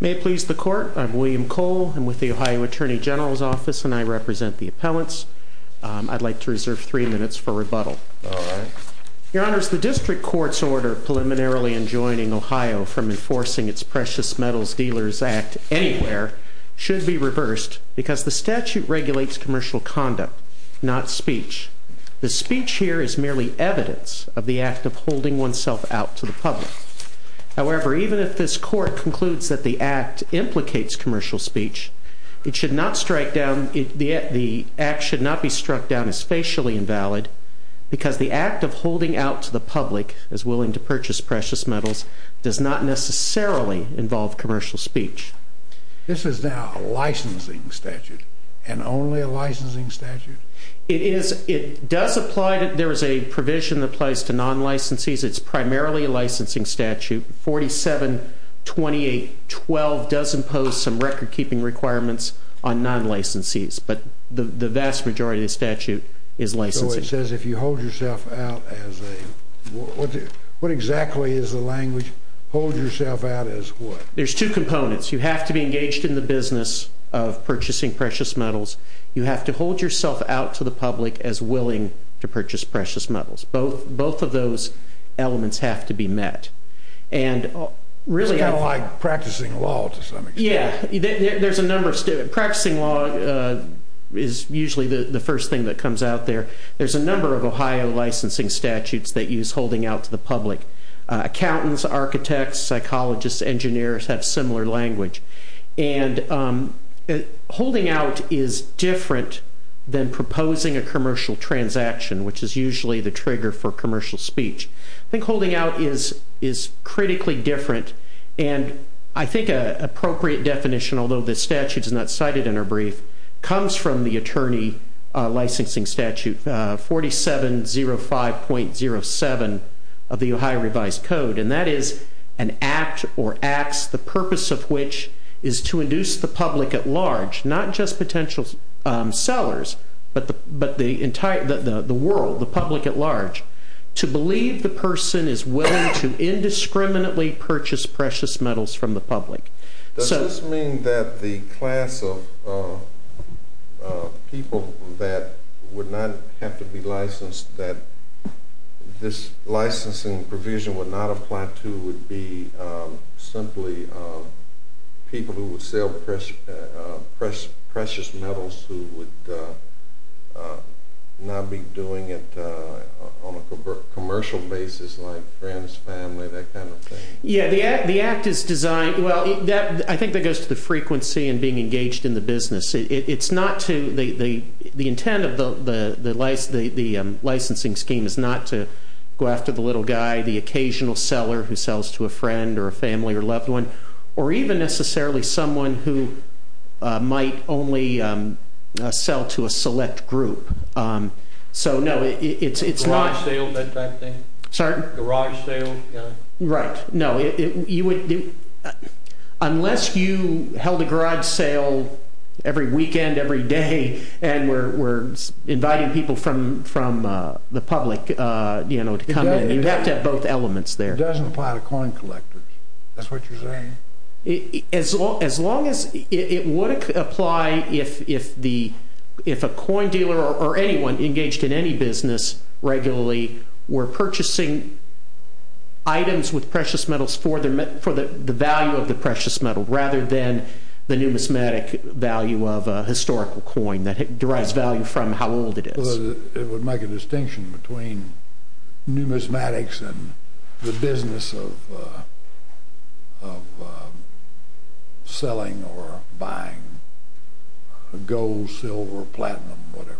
May it please the Court, I'm William Cole. I'm with the Ohio Attorney General's Office and I represent the appellants. I'd like to reserve three minutes for rebuttal. Your Honor, the District Court's order preliminarily enjoining Ohio from enforcing its Precious Metals Dealers Act anywhere should be reversed because the statute regulates commercial conduct, not speech. The speech here is merely evidence of the act of holding oneself out to the public. However, even if this Court concludes that the act implicates commercial speech, it should not strike down, the act should not be struck down as facially invalid because the act of holding out to the public is willing to purchase precious metals does not necessarily involve commercial speech. This is now a licensing statute and only a licensing statute? It is, it does apply, there is a provision that applies to non-licensees, it's primarily a licensing statute. 4728.12 does impose some record-keeping requirements on non-licensees, but the vast majority of the statute is licensing. So it says if you hold yourself out as a, what exactly is the language, hold yourself out as what? There's two components, you have to be engaged in the business of purchasing precious metals, you have to hold yourself out to the public as willing to purchase precious metals. Both of those elements have to be met. It's kind of like practicing law to some extent. Yeah, there's a number, practicing law is usually the first thing that comes out there. There's a number of Ohio licensing statutes that use holding out to the public. Accountants, architects, psychologists, engineers have similar language and holding out is different than proposing a commercial transaction, which is usually the trigger for commercial speech. I think holding out is critically different and I think an appropriate definition, although this statute is not cited in our brief, comes from the attorney licensing statute 4705.07 of the Ohio Revised Code, and that is an act or acts, the purpose of which is to induce the public at large, not just potential sellers, but the entire, the world, the public at large, to believe the person is willing to indiscriminately purchase precious metals from the public. Does this mean that the class of people that would not have to be licensed, that this licensing provision would not apply to, would be simply people who would sell precious metals, who would not be doing it on a commercial basis, like friends, family, that kind of thing? Yeah, the act is designed, well, I think that goes to the frequency and being engaged in the business. It's not to, the intent of the licensing scheme is not to go after the little guy, the occasional seller who sells to a friend or a family or loved one, or even necessarily someone who might only sell to a select group. So, no, it's not. Garage sale, that type of thing? Sorry? Garage sale? Right, no, you would, unless you held a garage sale every weekend, every day, and were inviting people from the public, you know, to come in, you'd have to have both elements there. It doesn't apply to coin collectors, that's what you're saying? As long as, it would apply if a coin dealer or anyone engaged in any business regularly were purchasing items with precious metals for the value of the precious metal, rather than the numismatic value of a historical coin that derives value from how old it is. It would make a distinction between numismatics and the business of selling or buying gold, silver, platinum, whatever.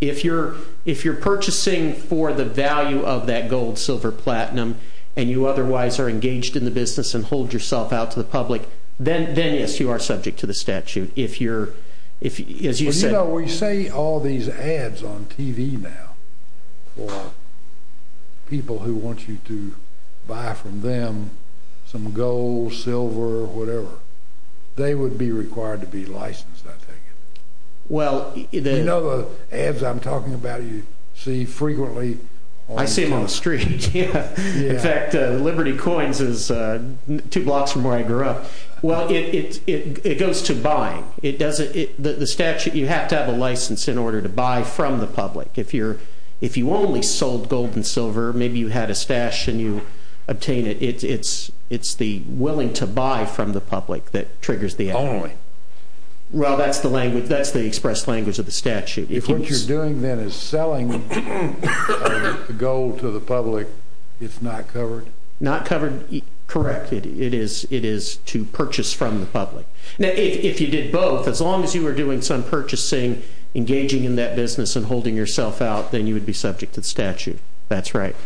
If you're purchasing for the value of that gold, silver, platinum, and you otherwise are engaged in the business and hold yourself out to the public, then, yes, you are subject to the statute. If you're, as you said- You know, we see all these ads on TV now for people who want you to buy from them some gold, silver, whatever. They would be required to be licensed, I take it. Well, the- You know the ads I'm talking about you see frequently on- I see them on the street, yeah. In fact, Liberty Coins is two blocks from where I grew up. Well, it goes to buying. It doesn't- the statute, you have to have a license in order to buy from the public. If you only sold gold and silver, maybe you had a stash and you obtained it, it's the willing to buy from the public that triggers the ad. Only. Well, that's the language. That's the expressed language of the statute. If what you're doing then is selling gold to the public, it's not covered? Not covered, correct. It is to purchase from the public. Now, if you did both, as long as you were doing some purchasing, engaging in that business and holding yourself out, then you would be subject to the statute. That's right.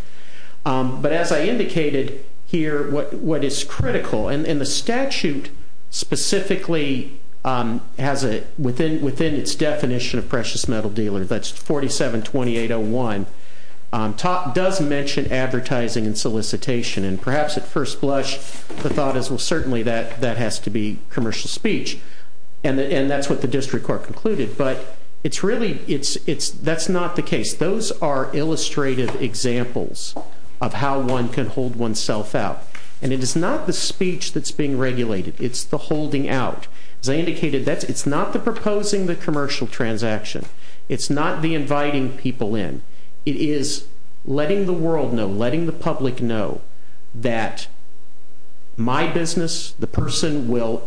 But as I indicated here, what is critical- And the statute specifically has a- within its definition of precious metal dealer, that's 472801, does mention advertising and solicitation. And perhaps at first blush, the thought is, well, certainly that has to be commercial speech. And that's what the district court concluded. But it's really, that's not the case. Those are illustrative examples of how one can hold oneself out. And it is not the speech that's being regulated. It's the holding out. As I indicated, it's not the proposing the commercial transaction. It's not the inviting people in. It is letting the world know, letting the public know that my business, the person, will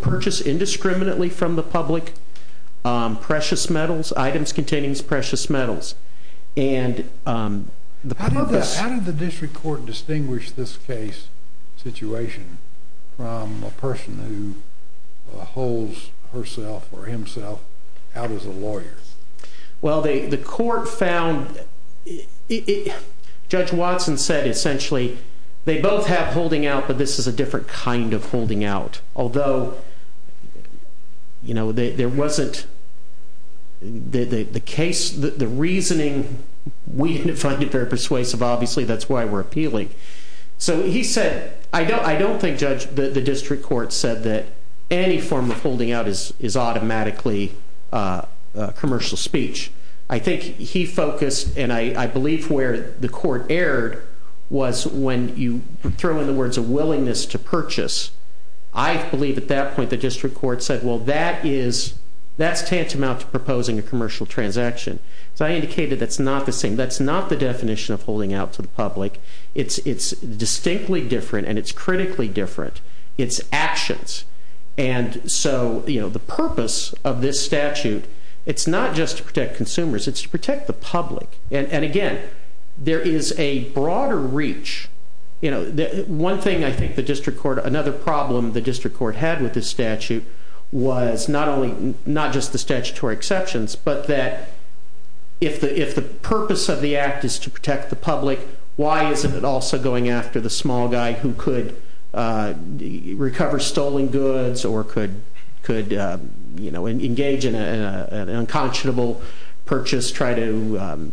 purchase indiscriminately from the public items containing precious metals. How did the district court distinguish this case situation from a person who holds herself or himself out as a lawyer? Well, the court found, Judge Watson said essentially, they both have holding out, but this is a different kind of holding out. Although, you know, there wasn't, the case, the reasoning, we didn't find it very persuasive. Obviously, that's why we're appealing. So he said, I don't think the district court said that any form of holding out is automatically commercial speech. I think he focused, and I believe where the court erred, was when you throw in the words a willingness to purchase. I believe at that point the district court said, well, that's tantamount to proposing a commercial transaction. So I indicated that's not the same. That's not the definition of holding out to the public. It's distinctly different, and it's critically different. It's actions. And so the purpose of this statute, it's not just to protect consumers. It's to protect the public. And again, there is a broader reach. One thing I think the district court, another problem the district court had with this statute was not just the statutory exceptions, but that if the purpose of the act is to protect the public, why isn't it also going after the small guy who could recover stolen goods or could engage in an unconscionable purchase, try to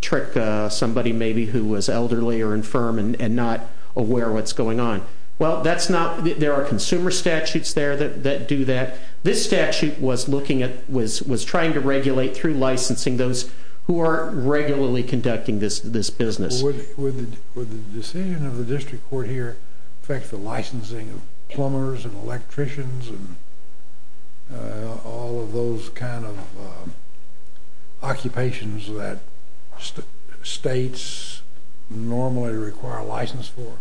trick somebody maybe who was elderly or infirm and not aware what's going on. Well, that's not, there are consumer statutes there that do that. This statute was looking at, was trying to regulate through licensing those who are regularly conducting this business. Would the decision of the district court here affect the licensing of plumbers and electricians and all of those kind of occupations that states normally require license for?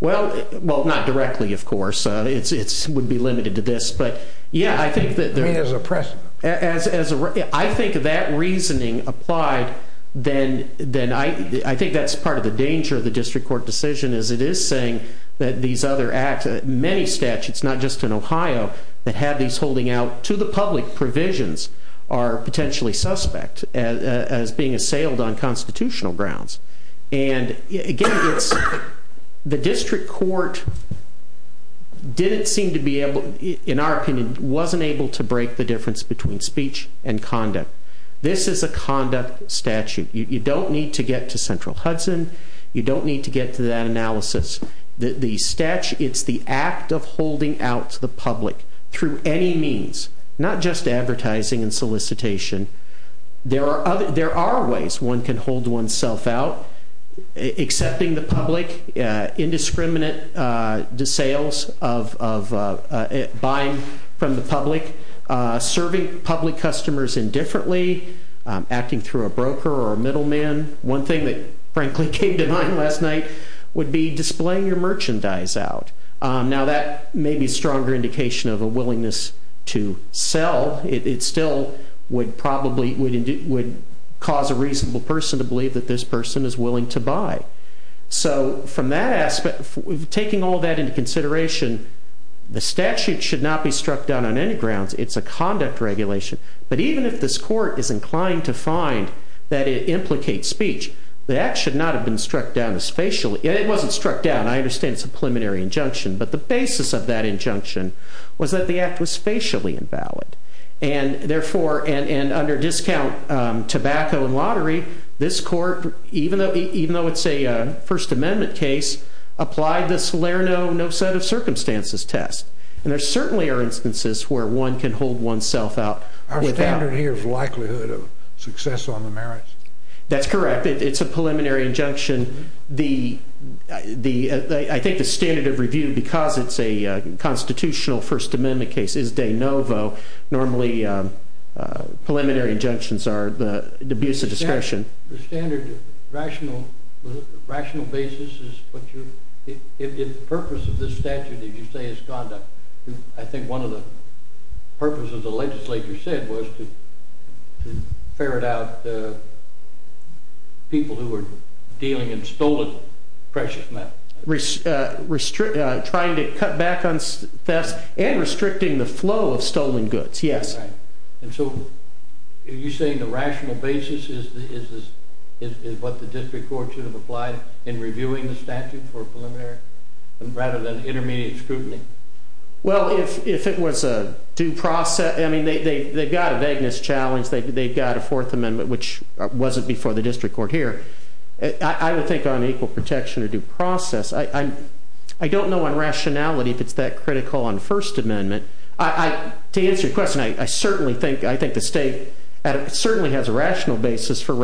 Well, not directly, of course. It would be limited to this, but yeah, I think that there is a precedent. I think that reasoning applied, then I think that's part of the danger of the district court decision, is it is saying that these other acts, many statutes, not just in Ohio, that have these holding out to the public provisions are potentially suspect as being assailed on constitutional grounds. And again, the district court didn't seem to be able, in our opinion, wasn't able to break the difference between speech and conduct. This is a conduct statute, you don't need to get to Central Hudson, you don't need to get to that analysis. The statute, it's the act of holding out to the public through any means, not just advertising and solicitation. There are ways one can hold oneself out, accepting the public, indiscriminate sales of buying from the public, serving public customers indifferently, acting through a broker or a middleman. One thing that frankly came to mind last night would be displaying your merchandise out. Now that may be a stronger indication of a willingness to sell, it still would cause a reasonable person to believe that this person is willing to buy. So from that aspect, taking all that into consideration, the statute should not be struck down on any grounds, it's a conduct regulation. But even if this court is inclined to find that it implicates speech, the act should not have been struck down spatially. It wasn't struck down, I understand it's a preliminary injunction, but the basis of that injunction was that the act was spatially invalid. And therefore, and under discount tobacco and lottery, this court, even though it's a First Amendment case, applied the Slare No, No Set of Circumstances test. And there certainly are instances where one can hold oneself out. Our standard here is likelihood of success on the merits. That's correct, it's a preliminary injunction. I think the standard of review, because it's a constitutional First Amendment case, is de novo. Normally, preliminary injunctions are the abuse of discretion. The standard rational basis is what you, if the purpose of this statute, as you say, is conduct. I think one of the purposes the legislature said was to ferret out people who were dealing in stolen precious metal. Trying to cut back on thefts and restricting the flow of stolen goods, yes. And so, are you saying the rational basis is what the district court should have applied in reviewing the statute for preliminary, rather than intermediate scrutiny? Well, if it was a due process, I mean, they've got a vagueness challenge. They've got a Fourth Amendment, which wasn't before the district court here. I would think on equal protection or due process. I don't know on rationality if it's that critical on First Amendment. To answer your question, I certainly think the state certainly has a rational basis for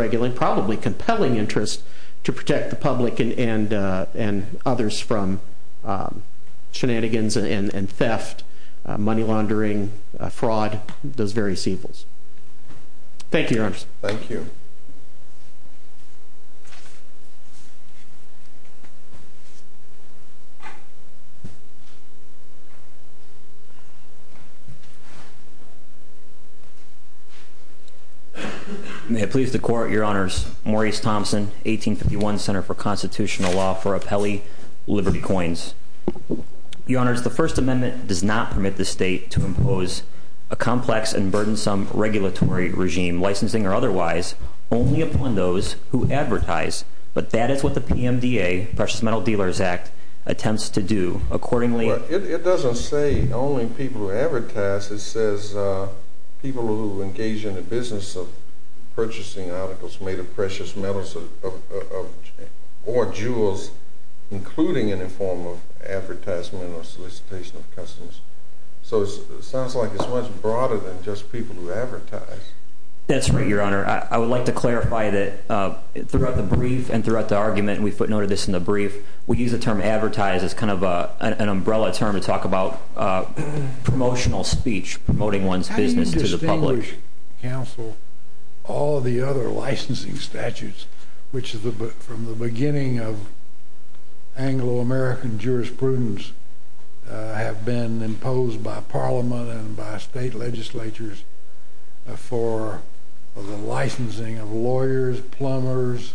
Shenanigans and theft, money laundering, fraud, those various evils. Thank you, your honor. Thank you. May it please the court, your honors. Maurice Thompson, 1851, Center for Constitutional Law for Apelli Liberty Coins. Your honors, the First Amendment does not permit the state to impose a complex and But that is what the PMDA, Precious Metal Dealers Act, attempts to do. Accordingly- Well, it doesn't say only people who advertise. It says people who engage in the business of purchasing articles made of precious metals or jewels, including any form of advertisement or solicitation of customers. So it sounds like it's much broader than just people who advertise. That's right, your honor. I would like to clarify that throughout the brief and throughout the argument, and we footnote this in the brief, we use the term advertise as kind of an umbrella term to talk about promotional speech, promoting one's business to the public. How do you distinguish, counsel, all the other licensing statutes, which from the beginning of Anglo-American jurisprudence have been imposed by parliament and by state legislatures for the licensing of lawyers, plumbers,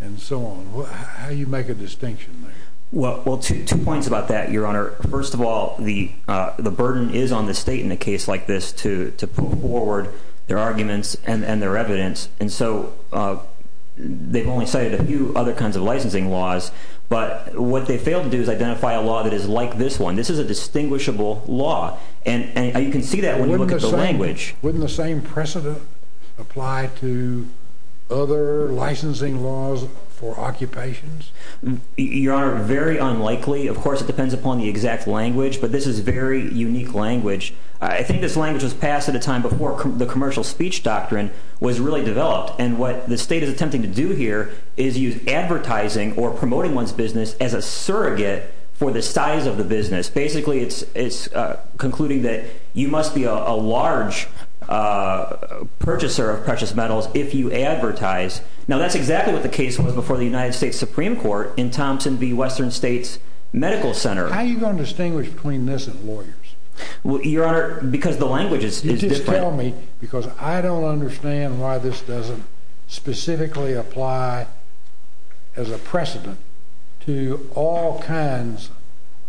and so on? How do you make a distinction there? Well, two points about that, your honor. First of all, the burden is on the state in a case like this to put forward their arguments and their evidence. And so they've only cited a few other kinds of licensing laws. But what they failed to do is identify a law that is like this one. This is a distinguishable law. And you can see that when you look at the language. Wouldn't the same precedent apply to other licensing laws for occupations? Your honor, very unlikely. Of course, it depends upon the exact language. But this is very unique language. I think this language was passed at a time before the commercial speech doctrine was really developed. And what the state is attempting to do here is use advertising or promoting one's business as a surrogate for the size of the business. Basically, it's concluding that you must be a large purchaser of precious metals if you advertise. Now, that's exactly what the case was before the United States Supreme Court in Thompson v. Western States Medical Center. How are you going to distinguish between this and lawyers? Your honor, because the language is different. You just tell me, because I don't understand why this doesn't specifically apply as a precedent to all kinds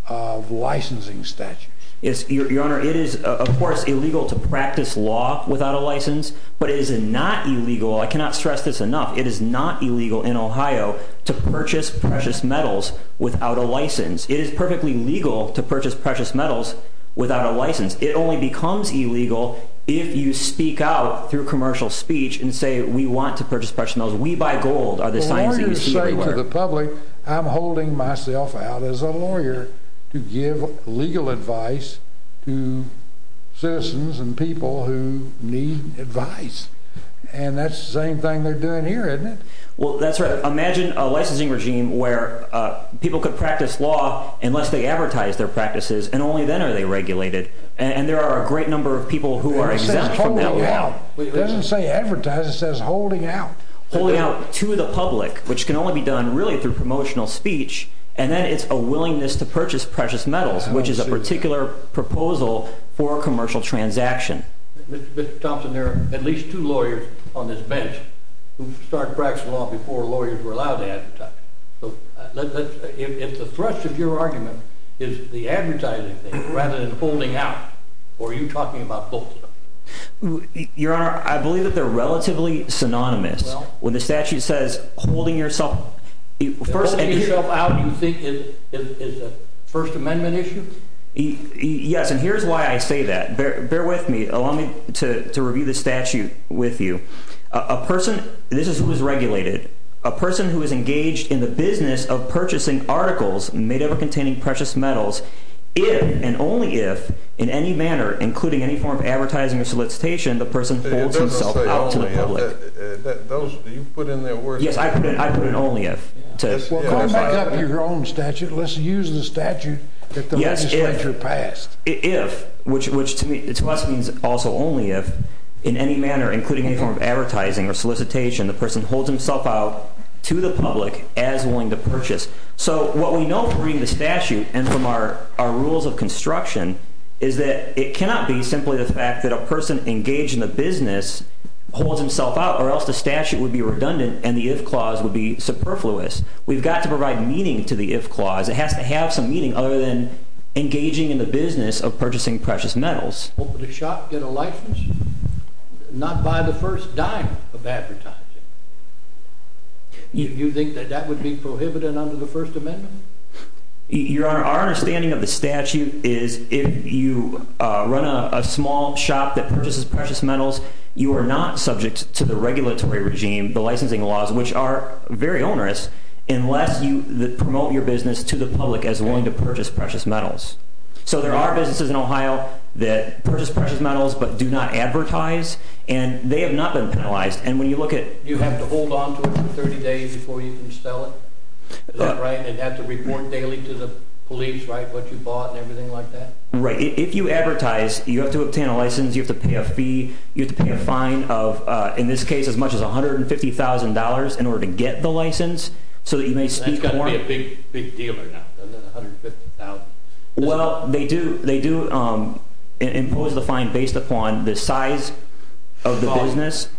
of licensing statutes. Yes, your honor. It is, of course, illegal to practice law without a license. But it is not illegal. I cannot stress this enough. It is not illegal in Ohio to purchase precious metals without a license. It is perfectly legal to purchase precious metals without a license. It only becomes illegal if you speak out through commercial speech and say, we want to purchase precious metals. We buy gold. Are the signs that you see everywhere? Well, lawyers say to the public, I'm holding myself out as a lawyer to give legal advice to citizens and people who need advice. And that's the same thing they're doing here, isn't it? Well, that's right. Imagine a licensing regime where people could practice law unless they advertise their practices. And only then are they regulated. And there are a great number of people who are exempt from that law. It doesn't say advertise. It says holding out. Holding out to the public, which can only be done really through promotional speech. And then it's a willingness to purchase precious metals, which is a particular proposal for a commercial transaction. Mr. Thompson, there are at least two lawyers on this bench who started practicing law before lawyers were allowed to advertise. So if the thrust of your argument is the advertising thing rather than holding out, or are you talking about both of them? Your Honor, I believe that they're relatively synonymous. When the statute says holding yourself out, you think it is a First Amendment issue? Yes. And here's why I say that. Bear with me. Allow me to review the statute with you. A person, this is who is regulated, a person who is engaged in the business of purchasing articles made up of containing precious metals, if and only if, in any manner, including any form of advertising or solicitation, the person holds himself out to the public. It doesn't say only if. You put in that word. Yes, I put in only if. Well, call back up your own statute. Let's use the statute that the legislature passed. If, which to me, to us means also only if, in any manner, including any form of advertising or solicitation, the person holds himself out to the public as willing to purchase. So what we know from reading the statute and from our rules of construction is that it cannot be simply the fact that a person engaged in the business holds himself out or else the statute would be redundant and the if clause would be superfluous. We've got to provide meaning to the if clause. It has to have some meaning other than engaging in the business of purchasing precious metals. Open a shop, get a license, not buy the first dime of advertising. Do you think that that would be prohibited under the First Amendment? Your Honor, our understanding of the statute is if you run a small shop that purchases precious metals, you are not subject to the regulatory regime, the licensing laws, which are very onerous, unless you promote your business to the public as willing to purchase precious metals. So there are businesses in Ohio that purchase precious metals, but do not advertise, and they have not been penalized. You have to hold on to it for 30 days before you can sell it, and have to report daily to the police what you bought and everything like that? Right. If you advertise, you have to obtain a license. You have to pay a fee. You have to pay a fine of, in this case, as much as $150,000 in order to get the license so that you may speak more. That's got to be a big, big deal right now, $150,000. Well, they do impose the fine based upon the size of the business.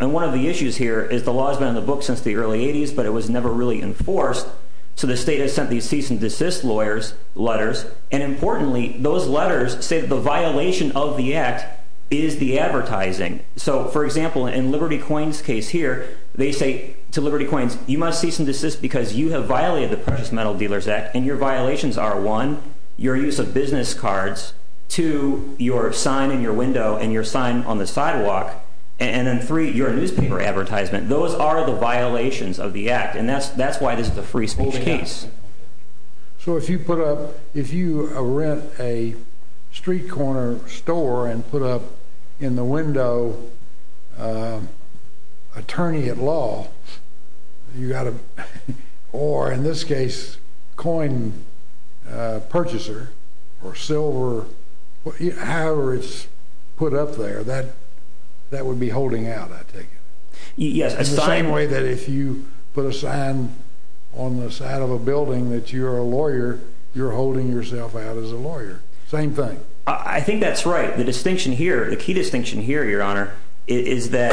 And one of the issues here is the law has been in the book since the early 80s, but it was never really enforced. So the state has sent these cease and desist lawyers letters, and importantly, those letters say the violation of the act is the advertising. So for example, in Liberty Coins' case here, they say to Liberty Coins, you must cease and desist because you have violated the Precious Metal Dealers Act, and your violations are, one, your use of business cards, two, your sign in your window and your sign on the sidewalk, and then three, your newspaper advertisement. Those are the violations of the act, and that's why this is a free speech case. So if you put up, if you rent a street corner store and put up in the window, attorney at law, you got to, or in this case, coin purchaser or silver, however it's put up there, that would be holding out, I take it. It's the same way that if you put a sign on the side of a building that you're a lawyer, you're holding yourself out as a lawyer. Same thing. I think that's right. The distinction here, the key distinction here, Your Honor, is that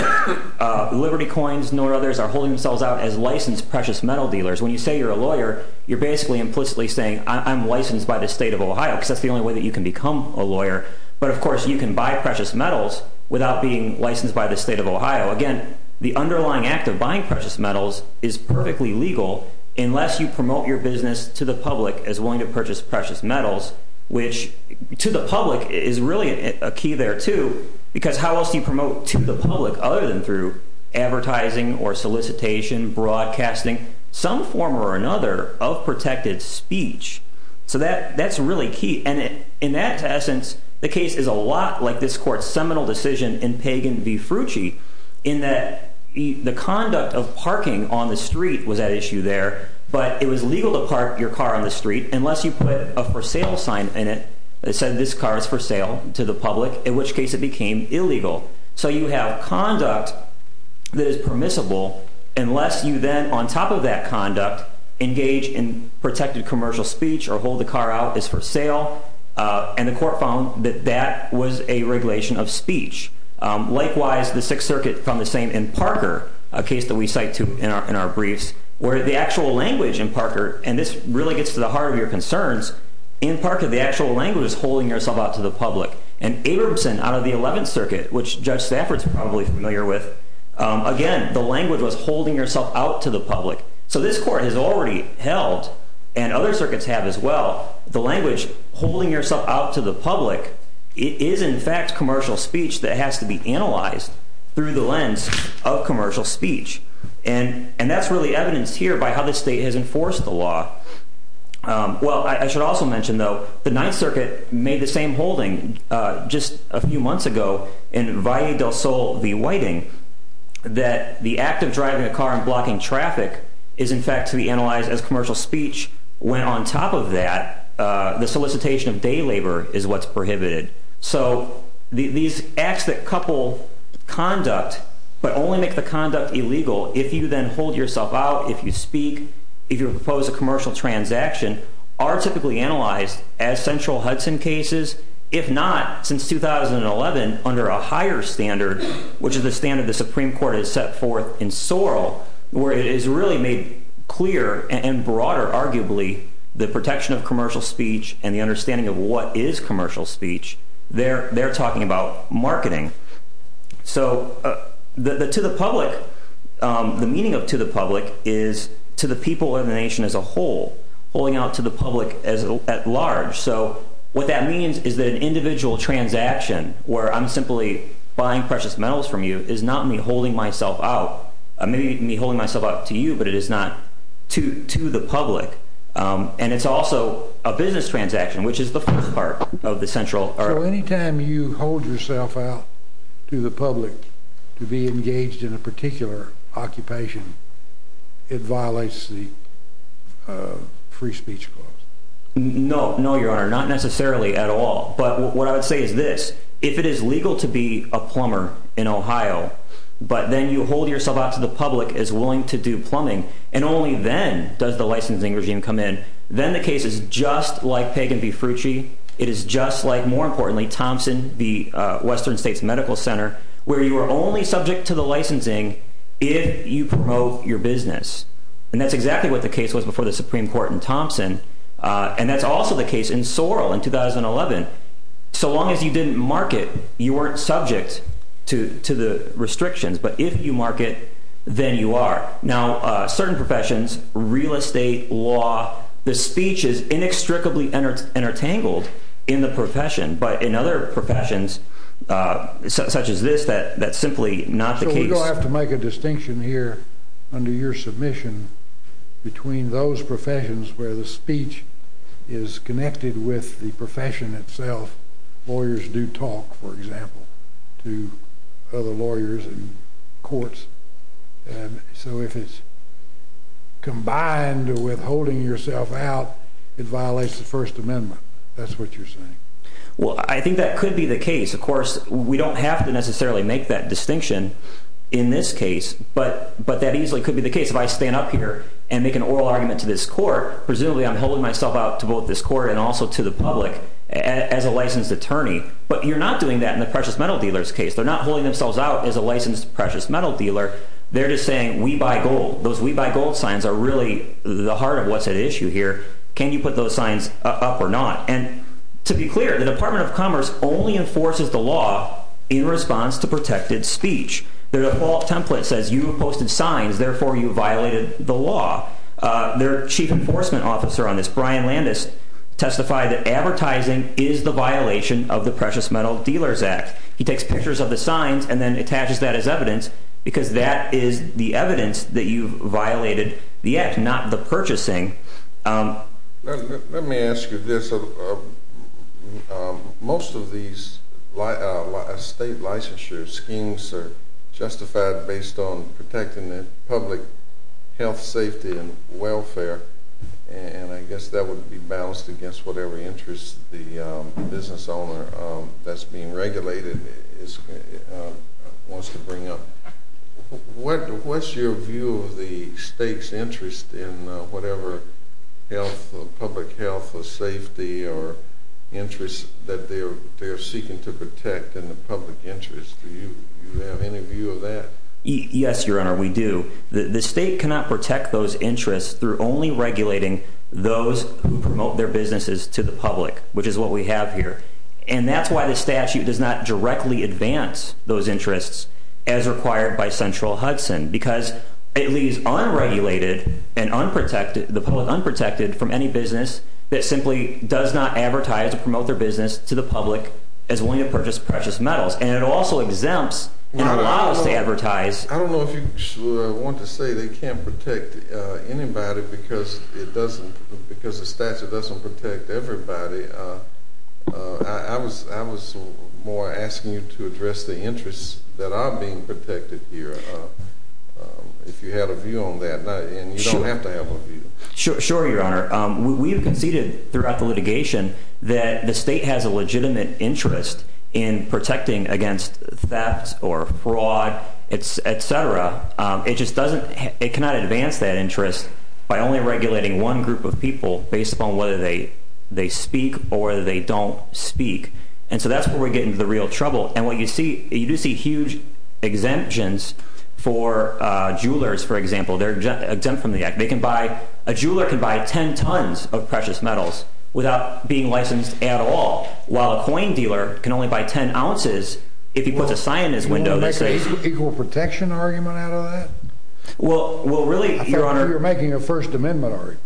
Liberty Coins, nor others, are holding themselves out as licensed precious metal dealers. When you say you're a lawyer, you're basically implicitly saying I'm licensed by the state of Ohio because that's the only way that you can become a lawyer. But of course, you can buy precious metals without being licensed by the state of Ohio. Again, the underlying act of buying precious metals is perfectly legal unless you promote your business to the public as willing to purchase precious metals, which to the public is really a key there too, because how else do you promote to the public other than through advertising or solicitation, broadcasting, some form or another of protected speech? So that's really key. And in that essence, the case is a lot like this court's seminal decision in Pagan v. Frucci in that the conduct of parking on the street was at issue there, but it was legal to park your car on the street unless you put a for sale sign in it that said this car is for sale to the public, in which case it became illegal. So you have conduct that is permissible unless you then, on top of that conduct, engage in protected commercial speech or hold the car out as for sale. And the court found that that was a regulation of speech. Likewise, the Sixth Circuit found the same in Parker, a case that we cite in our briefs, where the actual language in Parker, and this really gets to the heart of your concerns, in Parker, the actual language is holding yourself out to the public. And Abramson out of the Eleventh Circuit, which Judge Stafford's probably familiar with, again, the language was holding yourself out to the public. So this court has already held, and other circuits have as well, the language holding yourself out to the public is, in fact, commercial speech that has to be analyzed through the lens of commercial speech. And that's really evidenced here by how the state has enforced the law. Well, I should also mention, though, the Ninth Circuit made the same holding just a few months ago in Valle del Sol v. Whiting that the act of driving a car and blocking traffic is, in fact, to be analyzed as commercial speech. When on top of that, the solicitation of day labor is what's prohibited. So these acts that couple conduct, but only make the conduct illegal if you then hold yourself out, if you speak, if you propose a commercial transaction, are typically analyzed as central Hudson cases. If not, since 2011, under a higher standard, which is the standard the Supreme Court has set forth in Sorrell, where it is really made clear and broader, arguably, the protection of commercial speech and the understanding of what is commercial speech, they're talking about marketing. So the meaning of to the public is to the people in the nation as a whole, holding out to the public at large. So what that means is that an individual transaction where I'm simply buying precious metals from you is not me holding myself out. Maybe me holding myself out to you, but it is not to the public. And it's also a business transaction, which is the fourth part of the central... So anytime you hold yourself out to the public to be engaged in a particular occupation, it violates the free speech clause? No, no, Your Honor, not necessarily at all. But what I would say is this, if it is legal to be a plumber in Ohio, but then you hold yourself out to the public as willing to do plumbing, and only then does the licensing regime come in, then the case is just like Peg and B. Frucci. It is just like, more importantly, Thompson v. Western States Medical Center, where you are only subject to the licensing if you promote your business. And that's exactly what the case was before the Supreme Court and Thompson. And that's also the case in Sorrell in 2011. So long as you didn't market, you weren't subject to the restrictions. But if you market, then you are. Now, certain professions, real estate, law, the speech is inextricably entangled in the profession. But in other professions, such as this, that's simply not the case. So we do have to make a distinction here under your submission between those professions where the speech is connected with the profession itself. Lawyers do talk, for example, to other lawyers in courts. And so if it's combined with holding yourself out, it violates the First Amendment. That's what you're saying. Well, I think that could be the case. Of course, we don't have to necessarily make that distinction in this case. But that easily could be the case if I stand up here and make an oral argument to this court. Presumably, I'm holding myself out to both this court and also to the public as a licensed attorney. But you're not doing that in the precious metal dealers case. They're not holding themselves out as a licensed precious metal dealer. They're just saying, we buy gold. Those we buy gold signs are really the heart of what's at issue here. Can you put those signs up or not? And to be clear, the Department of Commerce only enforces the law in response to protected speech. Their default template says, you posted signs. Therefore, you violated the law. Their chief enforcement officer on this, Ryan Landis, testified that advertising is the violation of the Precious Metal Dealers Act. He takes pictures of the signs and then attaches that as evidence because that is the evidence that you violated the act, not the purchasing. Let me ask you this. Most of these state licensure schemes are justified based on protecting the public health, safety, and welfare. And I guess that would be balanced against whatever interest the business owner that's being regulated wants to bring up. What's your view of the state's interest in whatever public health or safety or interest that they're seeking to protect in the public interest? Do you have any view of that? Yes, Your Honor, we do. The state cannot protect those interests through only regulating those who promote their businesses to the public, which is what we have here. And that's why the statute does not directly advance those interests as required by Central Hudson because it leaves unregulated and the public unprotected from any business that simply does not advertise or promote their business to the public as willing to purchase precious metals. And it also exempts and allows to advertise. I don't know if you want to say they can't protect anybody because the statute doesn't protect everybody. I was more asking you to address the interests that are being protected here, if you had a view on that. And you don't have to have a view. Sure, Your Honor. We have conceded throughout the litigation that the state has a legitimate interest in protecting against theft or fraud, et cetera. It just doesn't, it cannot advance that interest by only regulating one group of people based upon whether they speak or they don't speak. And so that's where we get into the real trouble. And what you see, you do see huge exemptions for jewelers, for example. They're exempt from the act. They can buy, a jeweler can buy 10 tons of precious metals without being licensed at all. While a coin dealer can only buy 10 ounces if he puts a sign in his window that says- Equal protection argument out of that? Well, really, Your Honor- I thought you were making a First Amendment argument.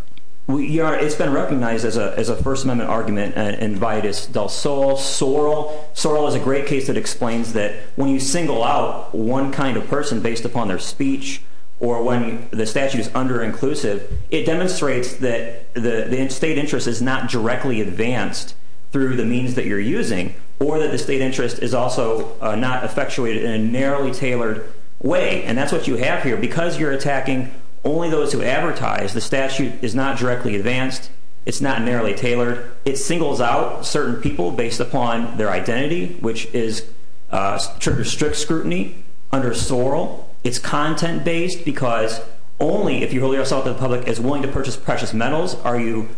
It's been recognized as a First Amendment argument in Vidas del Sol. Sorrel is a great case that explains that when you single out one kind of person based upon their speech, or when the statute is under-inclusive, it demonstrates that the state interest is not directly advanced through the means that you're using, or that the state interest is also not effectuated in a narrowly tailored way. And that's what you have here. Because you're attacking only those who advertise, the statute is not directly advanced. It's not narrowly tailored. It singles out certain people based upon their identity, which is strict scrutiny under Sorrel. It's content-based because only if you hold yourself to the public as willing to purchase precious metals are you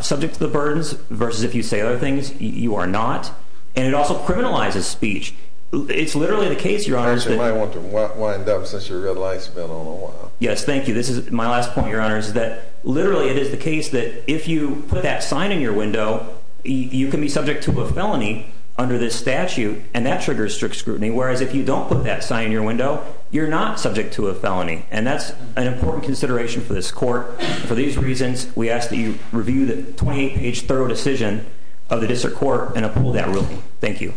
subject to the burdens versus if you say other things you are not. And it also criminalizes speech. It's literally the case, Your Honor, that- Actually, I might want to wind up since your red light's been on a while. Yes, thank you. This is my last point, Your Honor, is that literally it is the case that if you put that sign in your window, you can be subject to a felony under this statute. And that triggers strict scrutiny. Whereas if you don't put that sign in your window, you're not subject to a felony. And that's an important consideration for this court. For these reasons, we ask that you review the 28-page thorough decision of the district court and approve that ruling. Thank you.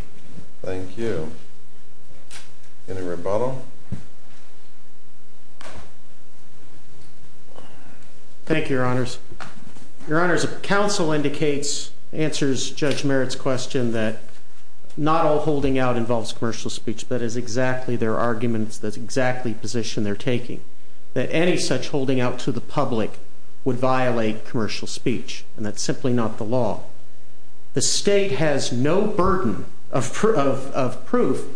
Thank you. Any rebuttal? Thank you, Your Honors. Your Honors, counsel answers Judge Merritt's question that not all holding out involves commercial speech. That is exactly their arguments. That's exactly the position they're taking. That any such holding out to the public would violate commercial speech. And that's simply not the law. The state has no burden of proof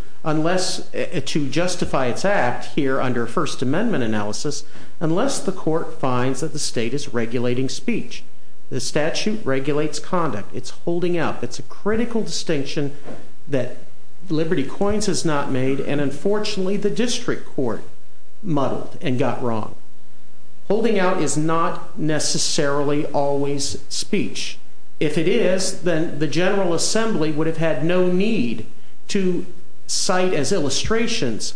to justify its act here under First Amendment analysis unless the court finds that the state is regulating speech. The statute regulates conduct. It's holding out. It's a critical distinction that Liberty Coins has not made. And unfortunately, the district court muddled and got wrong. Holding out is not necessarily always speech. If it is, then the General Assembly would have had no need to cite as illustrations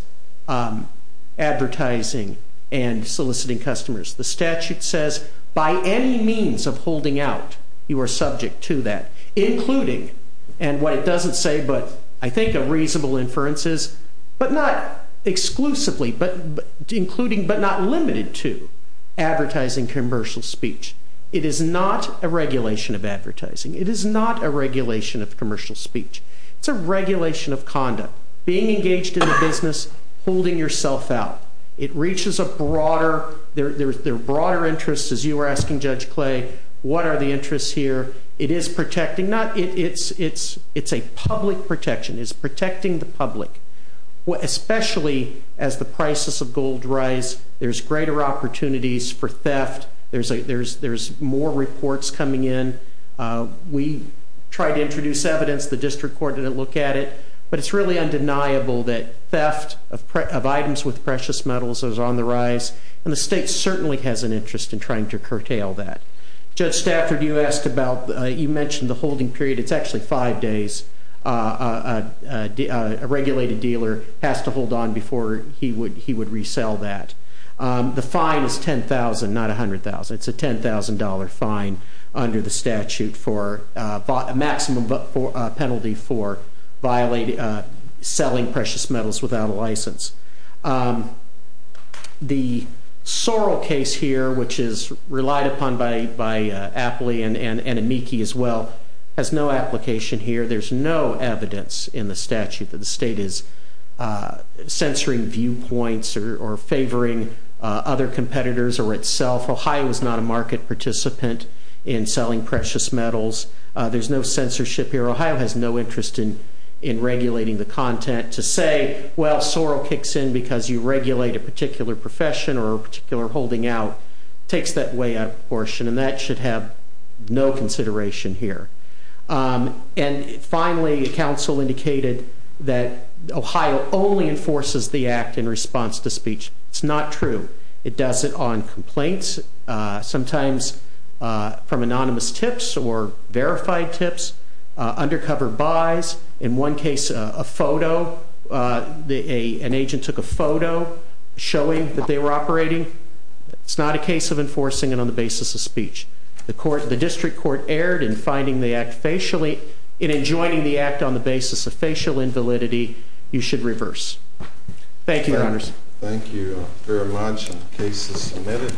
advertising and soliciting customers. The statute says by any means of holding out, you are subject to that, including, and what it doesn't say, but I think a reasonable inference is, but not exclusively, but including, but not limited to advertising commercial speech. It is not a regulation of advertising. It is not a regulation of commercial speech. It's a regulation of conduct. Being engaged in the business, holding yourself out. It reaches a broader, there are broader interests, as you were asking Judge Clay. What are the interests here? It is protecting, it's a public protection. It's protecting the public. Especially as the prices of gold rise, there's greater opportunities for theft. There's more reports coming in. We tried to introduce evidence. The district court didn't look at it. But it's really undeniable that theft of items with precious metals is on the rise. And the state certainly has an interest in trying to curtail that. Judge Stafford, you mentioned the holding period. It's actually five days a regulated dealer has to hold on before he would resell that. The fine is $10,000, not $100,000. It's a $10,000 fine under the statute for a maximum penalty for selling precious metals without a license. The Sorrell case here, which is relied upon by Appley and Amici as well, has no application here. There's no evidence in the statute that the state is censoring viewpoints or favoring other competitors or itself. Ohio is not a market participant in selling precious metals. There's no censorship here. Ohio has no interest in regulating the content to say, well, Sorrell kicks in because you regulate a particular profession or a particular holding out. It takes that way out portion. And that should have no consideration here. And finally, the council indicated that Ohio only enforces the act in response to speech. It's not true. It does it on complaints, sometimes from anonymous tips or verified tips, undercover buys. In one case, a photo, an agent took a photo showing that they were operating. It's not a case of enforcing it on the basis of speech. The district court erred in finding the act facially and in joining the act on the basis of facial invalidity. You should reverse. Thank you, Your Honors. Thank you very much. The case is submitted.